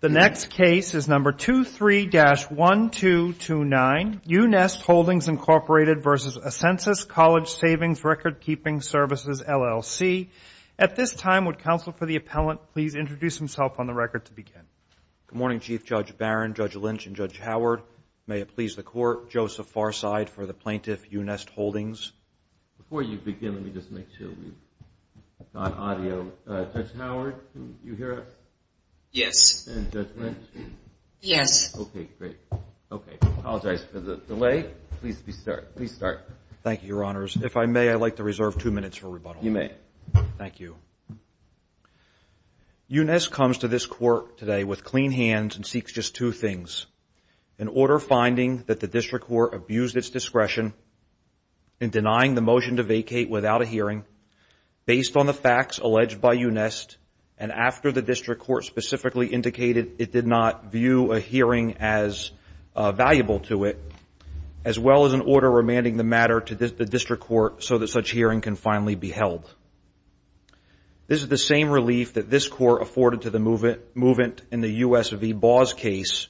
The next case is No. 23-1229, U-Nest Holdings, Inc. v. Ascensus Coll. Sav. Rk'ing Svcs. LLC. At this time, would Counsel for the Appellant please introduce himself on the record to begin? Good morning, Chief Judge Barron, Judge Lynch, and Judge Howard. May it please the Court, Joseph Farside for the plaintiff, U-Nest Holdings. Before you begin, let me just make sure we've got audio. Judge Howard, can you hear us? Yes. And Judge Lynch? Yes. Okay, great. Okay, I apologize for the delay. Please start. Thank you, Your Honors. If I may, I'd like to reserve two minutes for rebuttal. You may. Thank you. U-Nest comes to this Court today with clean hands and seeks just two things, an order finding that the District Court abused its discretion in denying the motion to vacate without a hearing based on the facts alleged by U-Nest, and after the District Court specifically indicated it did not view a hearing as valuable to it, as well as an order remanding the matter to the District Court so that such hearing can finally be held. This is the same relief that this Court afforded to the movement in the U.S. v. Baugh's case,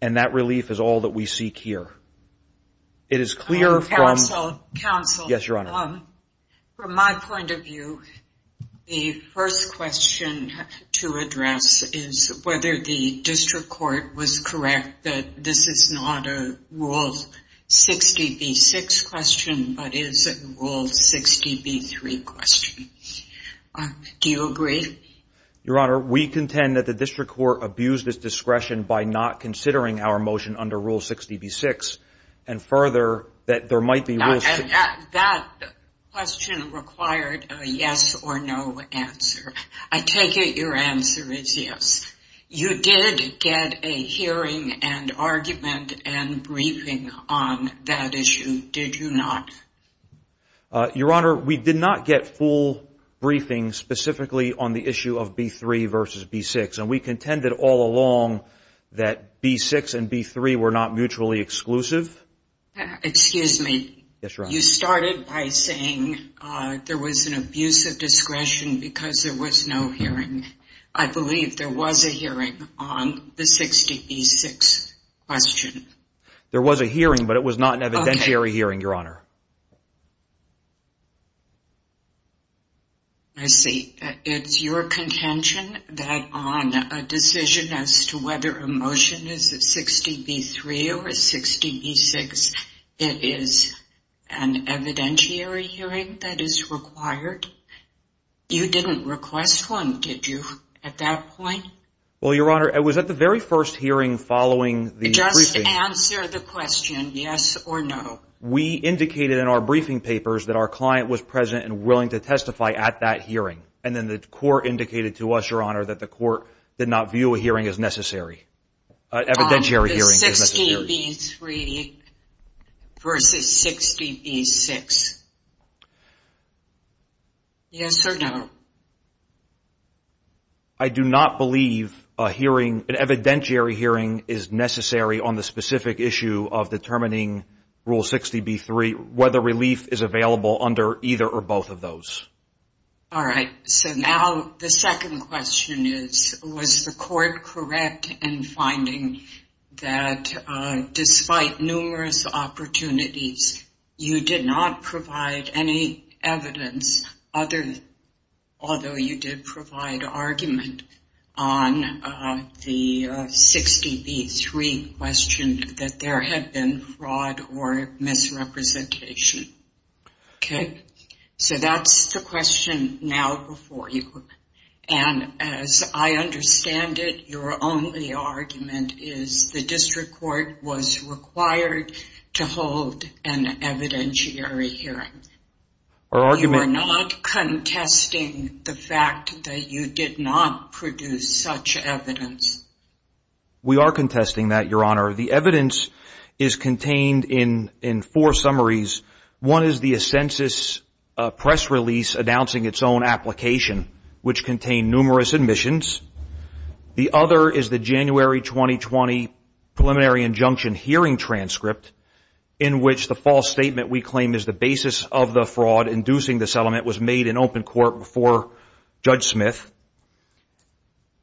and that relief is all that we seek here. Counsel. Yes, Your Honor. From my point of view, the first question to address is whether the District Court was correct that this is not a Rule 60b-6 question, but is a Rule 60b-3 question. Do you agree? Your Honor, we contend that the District Court abused its discretion by not considering our motion under Rule 60b-6, and further, that there might be rules. That question required a yes or no answer. I take it your answer is yes. You did get a hearing and argument and briefing on that issue, did you not? Your Honor, we did not get full briefings specifically on the issue of b-3 versus b-6, and we contended all along that b-6 and b-3 were not mutually exclusive. Excuse me. Yes, Your Honor. You started by saying there was an abuse of discretion because there was no hearing. I believe there was a hearing on the 60b-6 question. There was a hearing, but it was not an evidentiary hearing, Your Honor. I see. It's your contention that on a decision as to whether a motion is a 60b-3 or a 60b-6, it is an evidentiary hearing that is required? You didn't request one, did you, at that point? Well, Your Honor, it was at the very first hearing following the briefing. Just answer the question, yes or no. Your Honor, we indicated in our briefing papers that our client was present and willing to testify at that hearing, and then the court indicated to us, Your Honor, that the court did not view a hearing as necessary, an evidentiary hearing as necessary. On the 60b-3 versus 60b-6, yes or no? I do not believe an evidentiary hearing is necessary on the specific issue of determining Rule 60b-3, whether relief is available under either or both of those. All right, so now the second question is, was the court correct in finding that despite numerous opportunities, you did not provide any evidence, although you did provide argument, on the 60b-3 question that there had been fraud or misrepresentation? Okay, so that's the question now before you, and as I understand it, your only argument is the district court was required to hold an evidentiary hearing. You are not contesting the fact that you did not produce such evidence. We are contesting that, Your Honor. The evidence is contained in four summaries. One is the census press release announcing its own application, which contained numerous admissions. The other is the January 2020 preliminary injunction hearing transcript, in which the false statement we claim is the basis of the fraud inducing the settlement was made in open court before Judge Smith.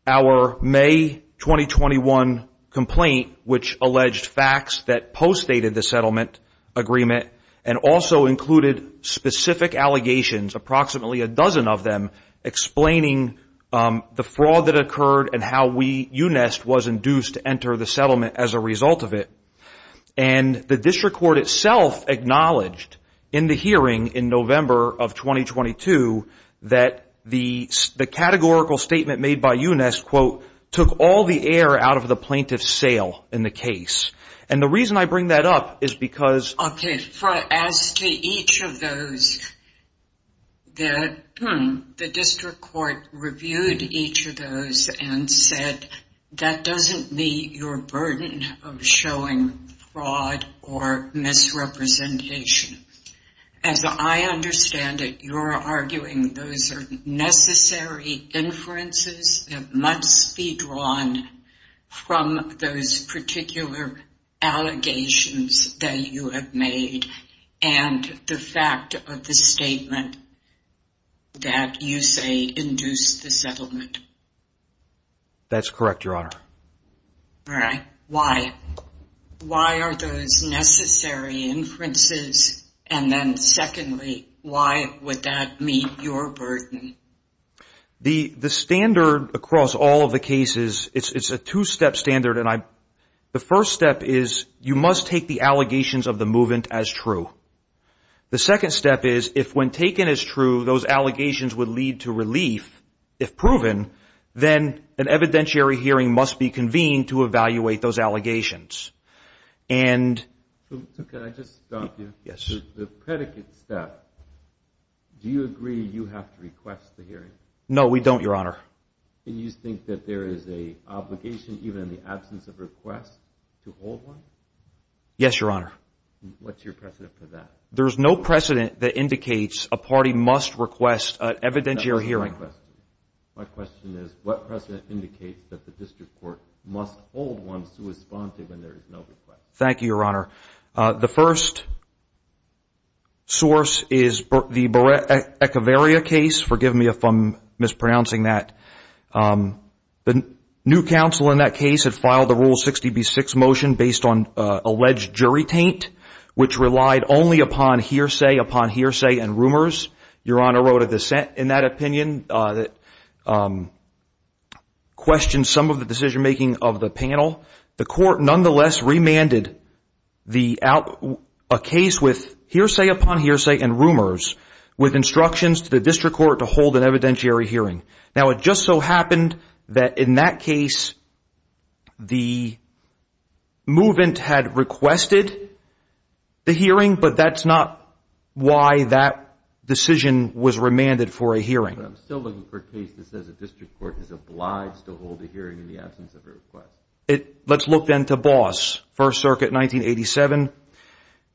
Our May 2021 complaint, which alleged facts that postdated the settlement agreement and also included specific allegations, approximately a dozen of them, explaining the fraud that occurred and how UNEST was induced to enter the settlement as a result of it. And the district court itself acknowledged in the hearing in November of 2022 that the categorical statement made by UNEST, quote, took all the air out of the plaintiff's sail in the case. And the reason I bring that up is because... Okay, as to each of those, the district court reviewed each of those and said, that doesn't meet your burden of showing fraud or misrepresentation. As I understand it, you're arguing those are necessary inferences that must be drawn from those particular allegations that you have made and the fact of the statement that you say induced the settlement. That's correct, Your Honor. All right. Why? Why are those necessary inferences? And then secondly, why would that meet your burden? The standard across all of the cases, it's a two-step standard. The first step is you must take the allegations of the movement as true. The second step is if when taken as true, those allegations would lead to relief. If proven, then an evidentiary hearing must be convened to evaluate those allegations. And... Can I just stop you? Yes. The predicate step, do you agree you have to request the hearing? No, we don't, Your Honor. And you think that there is an obligation even in the absence of request to hold one? Yes, Your Honor. What's your precedent for that? There's no precedent that indicates a party must request an evidentiary hearing. That's my question. My question is, what precedent indicates that the district court must hold one to respond to when there is no request? Thank you, Your Honor. The first source is the Beretta Echevarria case. Forgive me if I'm mispronouncing that. The new counsel in that case had filed the Rule 60b-6 motion based on alleged jury taint, which relied only upon hearsay upon hearsay and rumors. Your Honor wrote a dissent in that opinion that questioned some of the decision-making of the panel. The court nonetheless remanded a case with hearsay upon hearsay and rumors with instructions to the district court to hold an evidentiary hearing. Now, it just so happened that in that case, the movant had requested the hearing, but that's not why that decision was remanded for a hearing. But I'm still looking for a case that says a district court is obliged to hold a hearing in the absence of a request. Let's look then to Boss, First Circuit, 1987.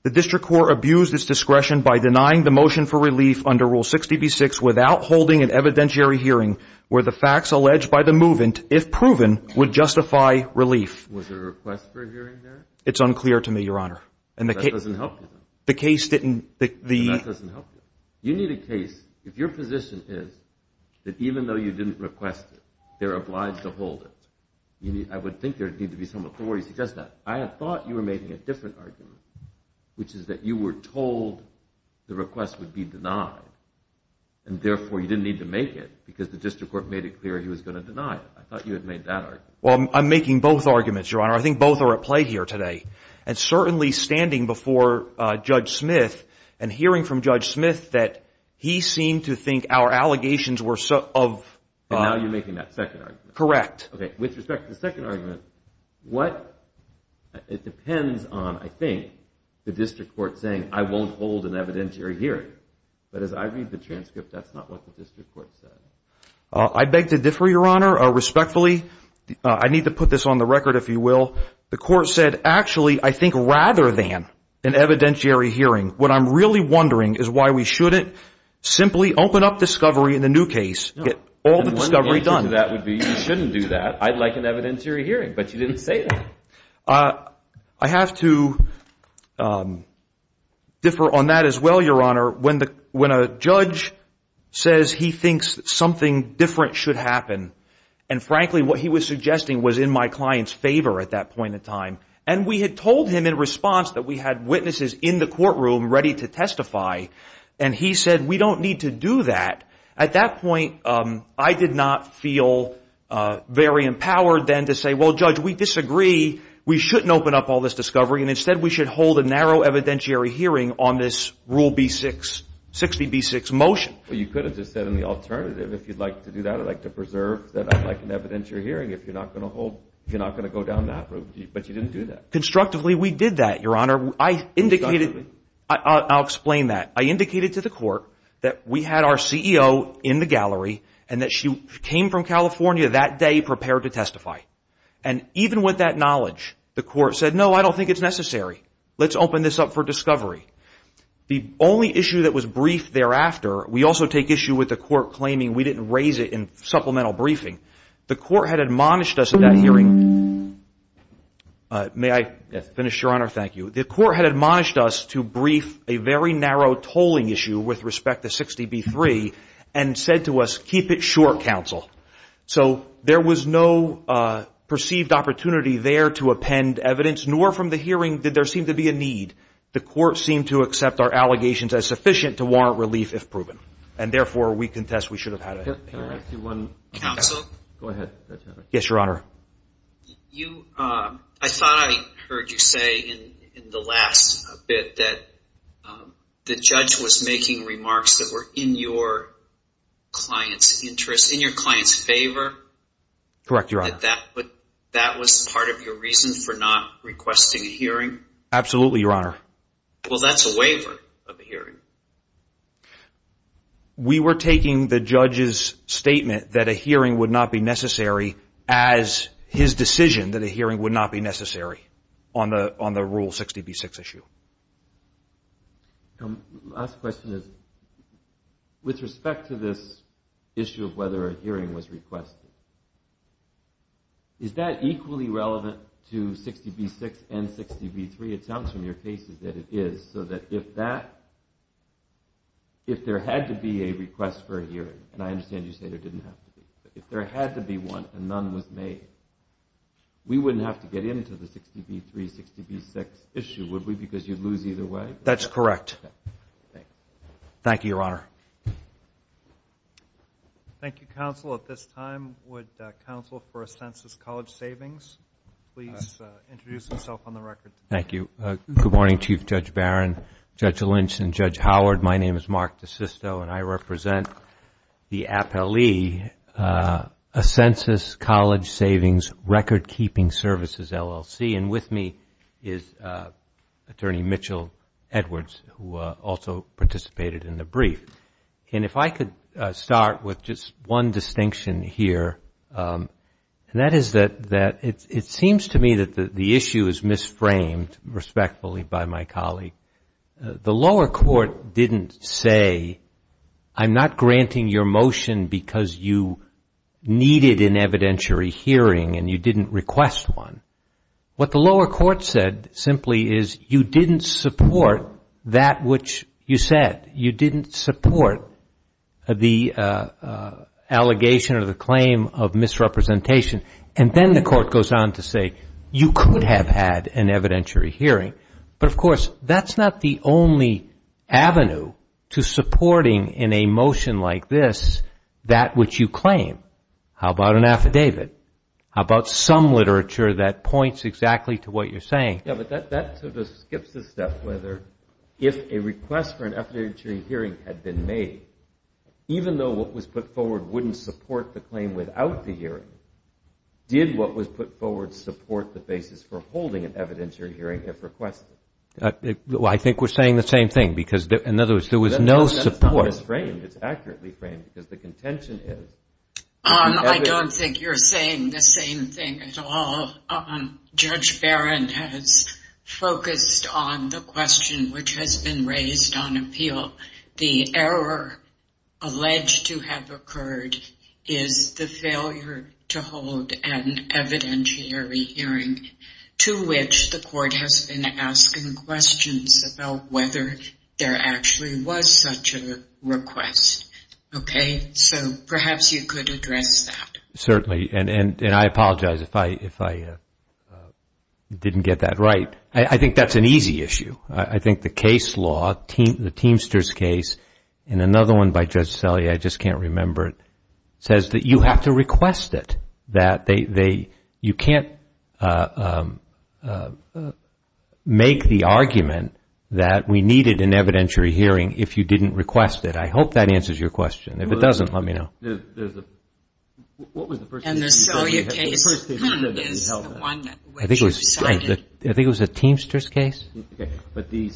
The district court abused its discretion by denying the motion for relief under Rule 60b-6 without holding an evidentiary hearing where the facts alleged by the movant, if proven, would justify relief. Was there a request for a hearing there? It's unclear to me, Your Honor. That doesn't help you, though. The case didn't, the- That doesn't help you. You need a case, if your position is that even though you didn't request it, they're obliged to hold it, I would think there would need to be some authority to suggest that. I had thought you were making a different argument, which is that you were told the request would be denied, and therefore you didn't need to make it because the district court made it clear he was going to deny it. I thought you had made that argument. Well, I'm making both arguments, Your Honor. I think both are at play here today, and certainly standing before Judge Smith and hearing from Judge Smith that he seemed to think our allegations were of- And now you're making that second argument. Correct. Okay, with respect to the second argument, what- It depends on, I think, the district court saying, I won't hold an evidentiary hearing. But as I read the transcript, that's not what the district court said. I beg to differ, Your Honor, respectfully. I need to put this on the record, if you will. The court said, actually, I think rather than an evidentiary hearing, what I'm really wondering is why we shouldn't simply open up discovery in the new case, get all the discovery done. One answer to that would be you shouldn't do that. I'd like an evidentiary hearing, but you didn't say that. I have to differ on that as well, Your Honor. When a judge says he thinks something different should happen, and frankly what he was suggesting was in my client's favor at that point in time, and we had told him in response that we had witnesses in the courtroom ready to testify, and he said we don't need to do that, at that point I did not feel very empowered then to say, well, Judge, we disagree, we shouldn't open up all this discovery, and instead we should hold a narrow evidentiary hearing on this Rule 60B6 motion. Well, you could have just said in the alternative, if you'd like to do that, I'd like to preserve that I'd like an evidentiary hearing if you're not going to hold, you're not going to go down that road, but you didn't do that. Constructively, we did that, Your Honor. I indicated, I'll explain that. I indicated to the court that we had our CEO in the gallery, and that she came from California that day prepared to testify. And even with that knowledge, the court said, no, I don't think it's necessary. Let's open this up for discovery. The only issue that was briefed thereafter, we also take issue with the court claiming we didn't raise it in supplemental briefing. The court had admonished us in that hearing. May I finish, Your Honor? Thank you. The court had admonished us to brief a very narrow tolling issue with respect to 60B3 and said to us, keep it short, counsel. So there was no perceived opportunity there to append evidence, nor from the hearing did there seem to be a need. The court seemed to accept our allegations as sufficient to warrant relief if proven. And therefore, we contest we should have had a hearing. Counsel? Go ahead. Yes, Your Honor. I thought I heard you say in the last bit that the judge was making remarks that were in your client's interest, in your client's favor. Correct, Your Honor. That was part of your reason for not requesting a hearing? Absolutely, Your Honor. Well, that's a waiver of the hearing. We were taking the judge's statement that a hearing would not be necessary as his decision that a hearing would not be necessary on the Rule 60B6 issue. The last question is, with respect to this issue of whether a hearing was requested, is that equally relevant to 60B6 and 60B3? It sounds from your cases that it is. So that if that, if there had to be a request for a hearing, and I understand you say there didn't have to be, but if there had to be one and none was made, we wouldn't have to get into the 60B3, 60B6 issue, would we? Because you'd lose either way? That's correct. Thank you, Your Honor. Thank you, Counsel. At this time, would Counsel for a Census College Savings please introduce himself on the record? Thank you. Good morning, Chief Judge Barron, Judge Lynch, and Judge Howard. My name is Mark DeSisto, and I represent the appellee Census College Savings Recordkeeping Services, LLC. And with me is Attorney Mitchell Edwards, who also participated in the brief. And if I could start with just one distinction here, and that is that it seems to me that the issue is misframed, respectfully, by my colleague. The lower court didn't say, I'm not granting your motion because you needed an evidentiary hearing and you didn't request one. What the lower court said simply is you didn't support that which you said. You didn't support the allegation or the claim of misrepresentation. And then the court goes on to say you could have had an evidentiary hearing. But, of course, that's not the only avenue to supporting in a motion like this that which you claim. How about an affidavit? How about some literature that points exactly to what you're saying? Yeah, but that sort of skips the step whether if a request for an affidavit hearing had been made, even though what was put forward wouldn't support the claim without the hearing, did what was put forward support the basis for holding an evidentiary hearing if requested? I think we're saying the same thing because, in other words, there was no support. That's not misframed. It's accurately framed because the contention is. I don't think you're saying the same thing at all. Judge Barron has focused on the question which has been raised on appeal. The error alleged to have occurred is the failure to hold an evidentiary hearing to which the court has been asking questions about whether there actually was such a request. Okay? So perhaps you could address that. Certainly, and I apologize if I didn't get that right. I think that's an easy issue. I think the case law, the Teamsters case, and another one by Judge Selye, I just can't remember it, says that you have to request it. You can't make the argument that we needed an evidentiary hearing if you didn't request it. I hope that answers your question. If it doesn't, let me know. And the Selye case is the one that you cited. I think it was the Teamsters case. But the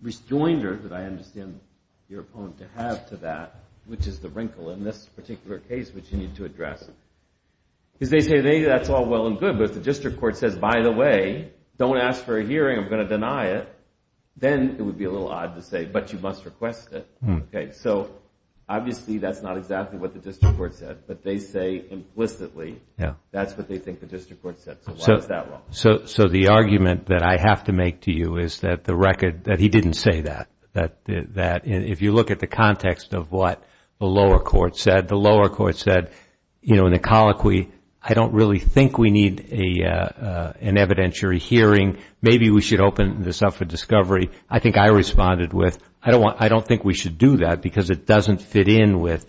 rejoinder that I understand your opponent to have to that, which is the wrinkle in this particular case which you need to address, is they say that's all well and good, but if the district court says, by the way, don't ask for a hearing, I'm going to deny it, then it would be a little odd to say, but you must request it. So obviously that's not exactly what the district court said, but they say implicitly that's what they think the district court said. So why is that wrong? So the argument that I have to make to you is that he didn't say that. If you look at the context of what the lower court said, the lower court said in a colloquy, I don't really think we need an evidentiary hearing. Maybe we should open this up for discovery. I think I responded with, I don't think we should do that, because it doesn't fit in with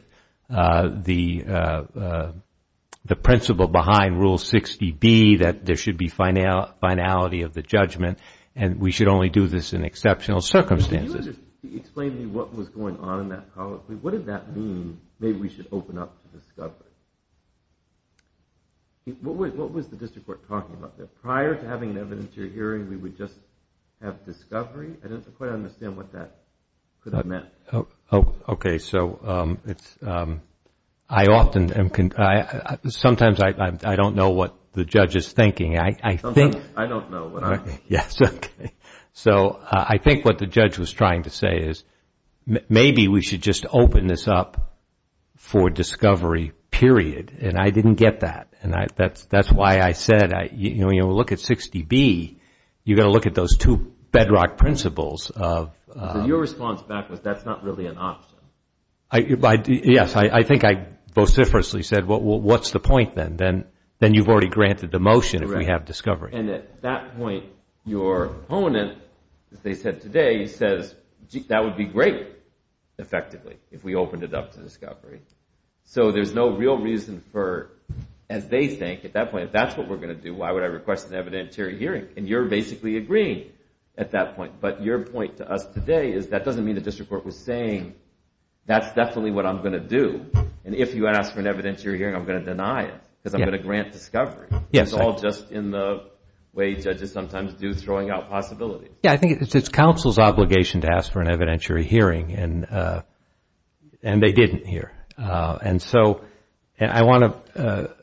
the principle behind Rule 60B that there should be finality of the judgment and we should only do this in exceptional circumstances. Can you just explain to me what was going on in that colloquy? What did that mean, maybe we should open up for discovery? What was the district court talking about? Prior to having an evidentiary hearing, we would just have discovery? I don't quite understand what that could have meant. Okay, so sometimes I don't know what the judge is thinking. Sometimes I don't know what I'm thinking. So I think what the judge was trying to say is maybe we should just open this up for discovery, period. And I didn't get that. And that's why I said, when you look at 60B, you've got to look at those two bedrock principles. So your response back was that's not really an option. Yes, I think I vociferously said, well, what's the point then? Then you've already granted the motion if we have discovery. And at that point, your opponent, as they said today, says that would be great, effectively, if we opened it up for discovery. So there's no real reason for, as they think at that point, if that's what we're going to do, why would I request an evidentiary hearing? And you're basically agreeing at that point. But your point to us today is that doesn't mean the district court was saying, that's definitely what I'm going to do. And if you ask for an evidentiary hearing, I'm going to deny it because I'm going to grant discovery. It's all just in the way judges sometimes do throwing out possibilities. Yes, I think it's counsel's obligation to ask for an evidentiary hearing, and they didn't here. And so I want to,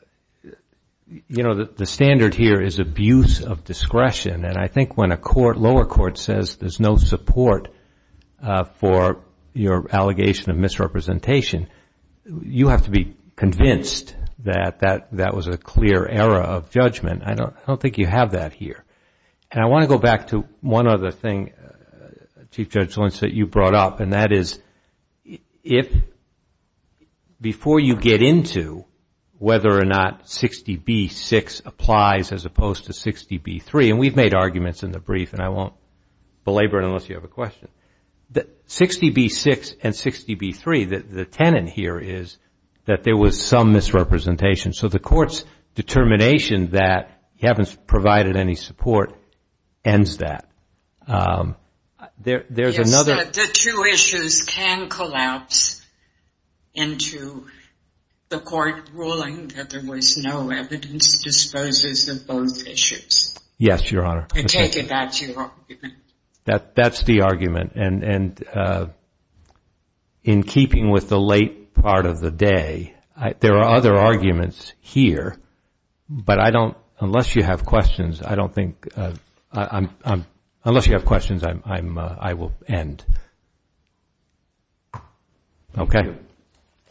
you know, the standard here is abuse of discretion. And I think when a lower court says there's no support for your allegation of misrepresentation, you have to be convinced that that was a clear error of judgment. I don't think you have that here. And I want to go back to one other thing, Chief Judge Lentz, that you brought up, and that is if before you get into whether or not 60B-6 applies as opposed to 60B-3, and we've made arguments in the brief, and I won't belabor it unless you have a question, that 60B-6 and 60B-3, the tenet here is that there was some misrepresentation. So the court's determination that you haven't provided any support ends that. Yes, the two issues can collapse into the court ruling that there was no evidence disposes of both issues. Yes, Your Honor. I take it that's your argument. That's the argument, and in keeping with the late part of the day, there are other arguments here, but I don't, unless you have questions, I don't think, unless you have questions, I will end. Okay.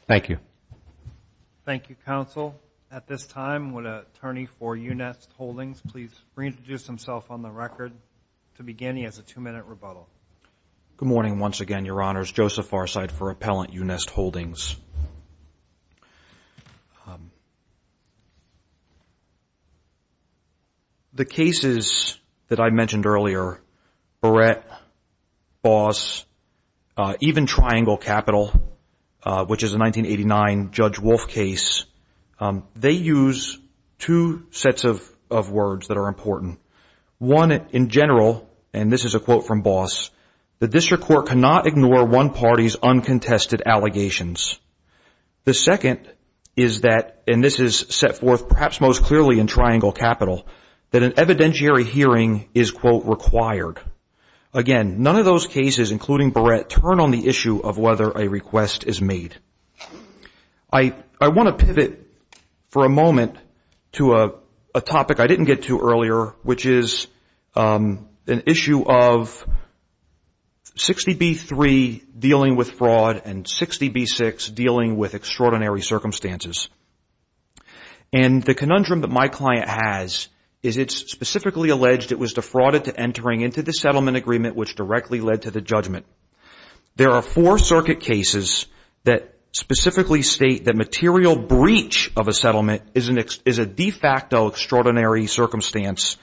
Thank you. Thank you, counsel. At this time, would an attorney for Unest Holdings please reintroduce himself on the record to begin. He has a two-minute rebuttal. Good morning once again, Your Honors. Joseph Farside for Appellant, Unest Holdings. The cases that I mentioned earlier, Barrett, Boss, even Triangle Capital, which is a 1989 Judge Wolf case, they use two sets of words that are important. One, in general, and this is a quote from Boss, the district court cannot ignore one party's uncontested allegations. The second is that, and this is set forth perhaps most clearly in Triangle Capital, that an evidentiary hearing is, quote, required. Again, none of those cases, including Barrett, turn on the issue of whether a request is made. I want to pivot for a moment to a topic I didn't get to earlier, which is an issue of 60B3 dealing with fraud and 60B6 dealing with extraordinary circumstances. And the conundrum that my client has is it's specifically alleged it was defrauded to entering into the settlement agreement, which directly led to the judgment. There are four circuit cases that specifically state that material breach of a settlement is a de facto extraordinary circumstance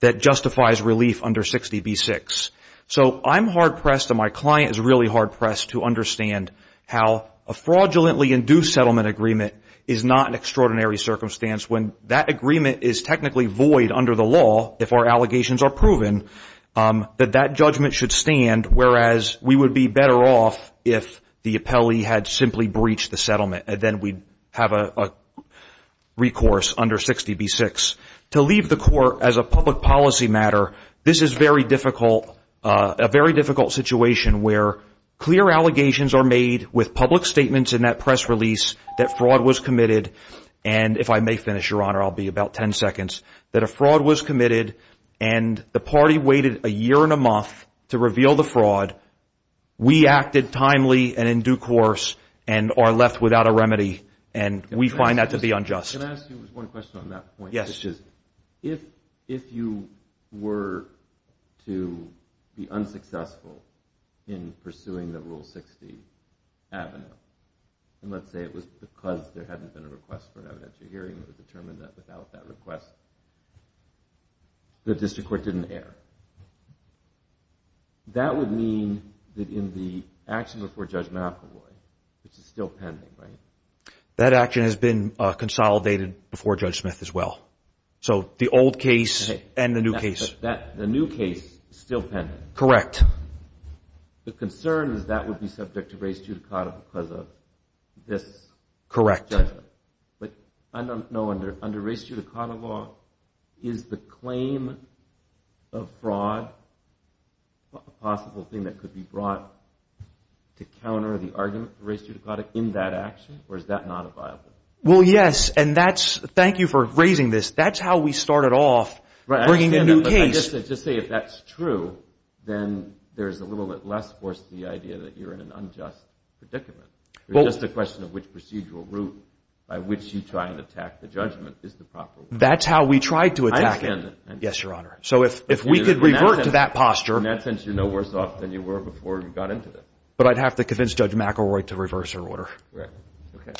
that justifies relief under 60B6. So I'm hard pressed, and my client is really hard pressed, to understand how a fraudulently induced settlement agreement is not an extraordinary circumstance when that agreement is technically void under the law, if our allegations are proven, that that judgment should stand, whereas we would be better off if the appellee had simply breached the settlement, and then we'd have a recourse under 60B6. To leave the court as a public policy matter, this is very difficult, a very difficult situation where clear allegations are made with public statements in that press release that fraud was committed, and if I may finish, Your Honor, I'll be about 10 seconds, that a fraud was committed, and the party waited a year and a month to reveal the fraud. We acted timely and in due course, and are left without a remedy, and we find that to be unjust. Can I ask you one question on that point? Yes. If you were to be unsuccessful in pursuing the Rule 60 avenue, and let's say it was because there hadn't been a request for an evidentiary hearing that would determine that without that request, the district court didn't err, that would mean that in the action before Judge McEvoy, which is still pending, right? That action has been consolidated before Judge Smith as well. So the old case and the new case. The new case is still pending. Correct. The concern is that would be subject to race judicata because of this judgment. Correct. But I don't know under race judicata law, is the claim of fraud a possible thing that could be brought to counter the argument for race judicata in that action, or is that not a viable thing? Well, yes, and thank you for raising this. That's how we started off bringing a new case. I understand that, but I just say if that's true, then there's a little bit less force to the idea that you're in an unjust predicament. It's just a question of which procedural route by which you try and attack the judgment is the proper one. That's how we tried to attack it. I understand that. Yes, Your Honor. So if we could revert to that posture. In that sense, you're no worse off than you were before you got into this. But I'd have to convince Judge McElroy to reverse her order. Correct. Okay.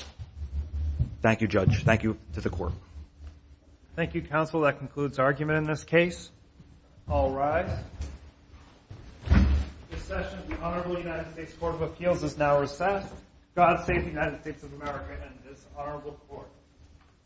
Thank you, Judge. Thank you to the Court. Thank you, Counsel. That concludes argument in this case. All rise. This session of the Honorable United States Court of Appeals is now recessed. God save the United States of America and this Honorable Court.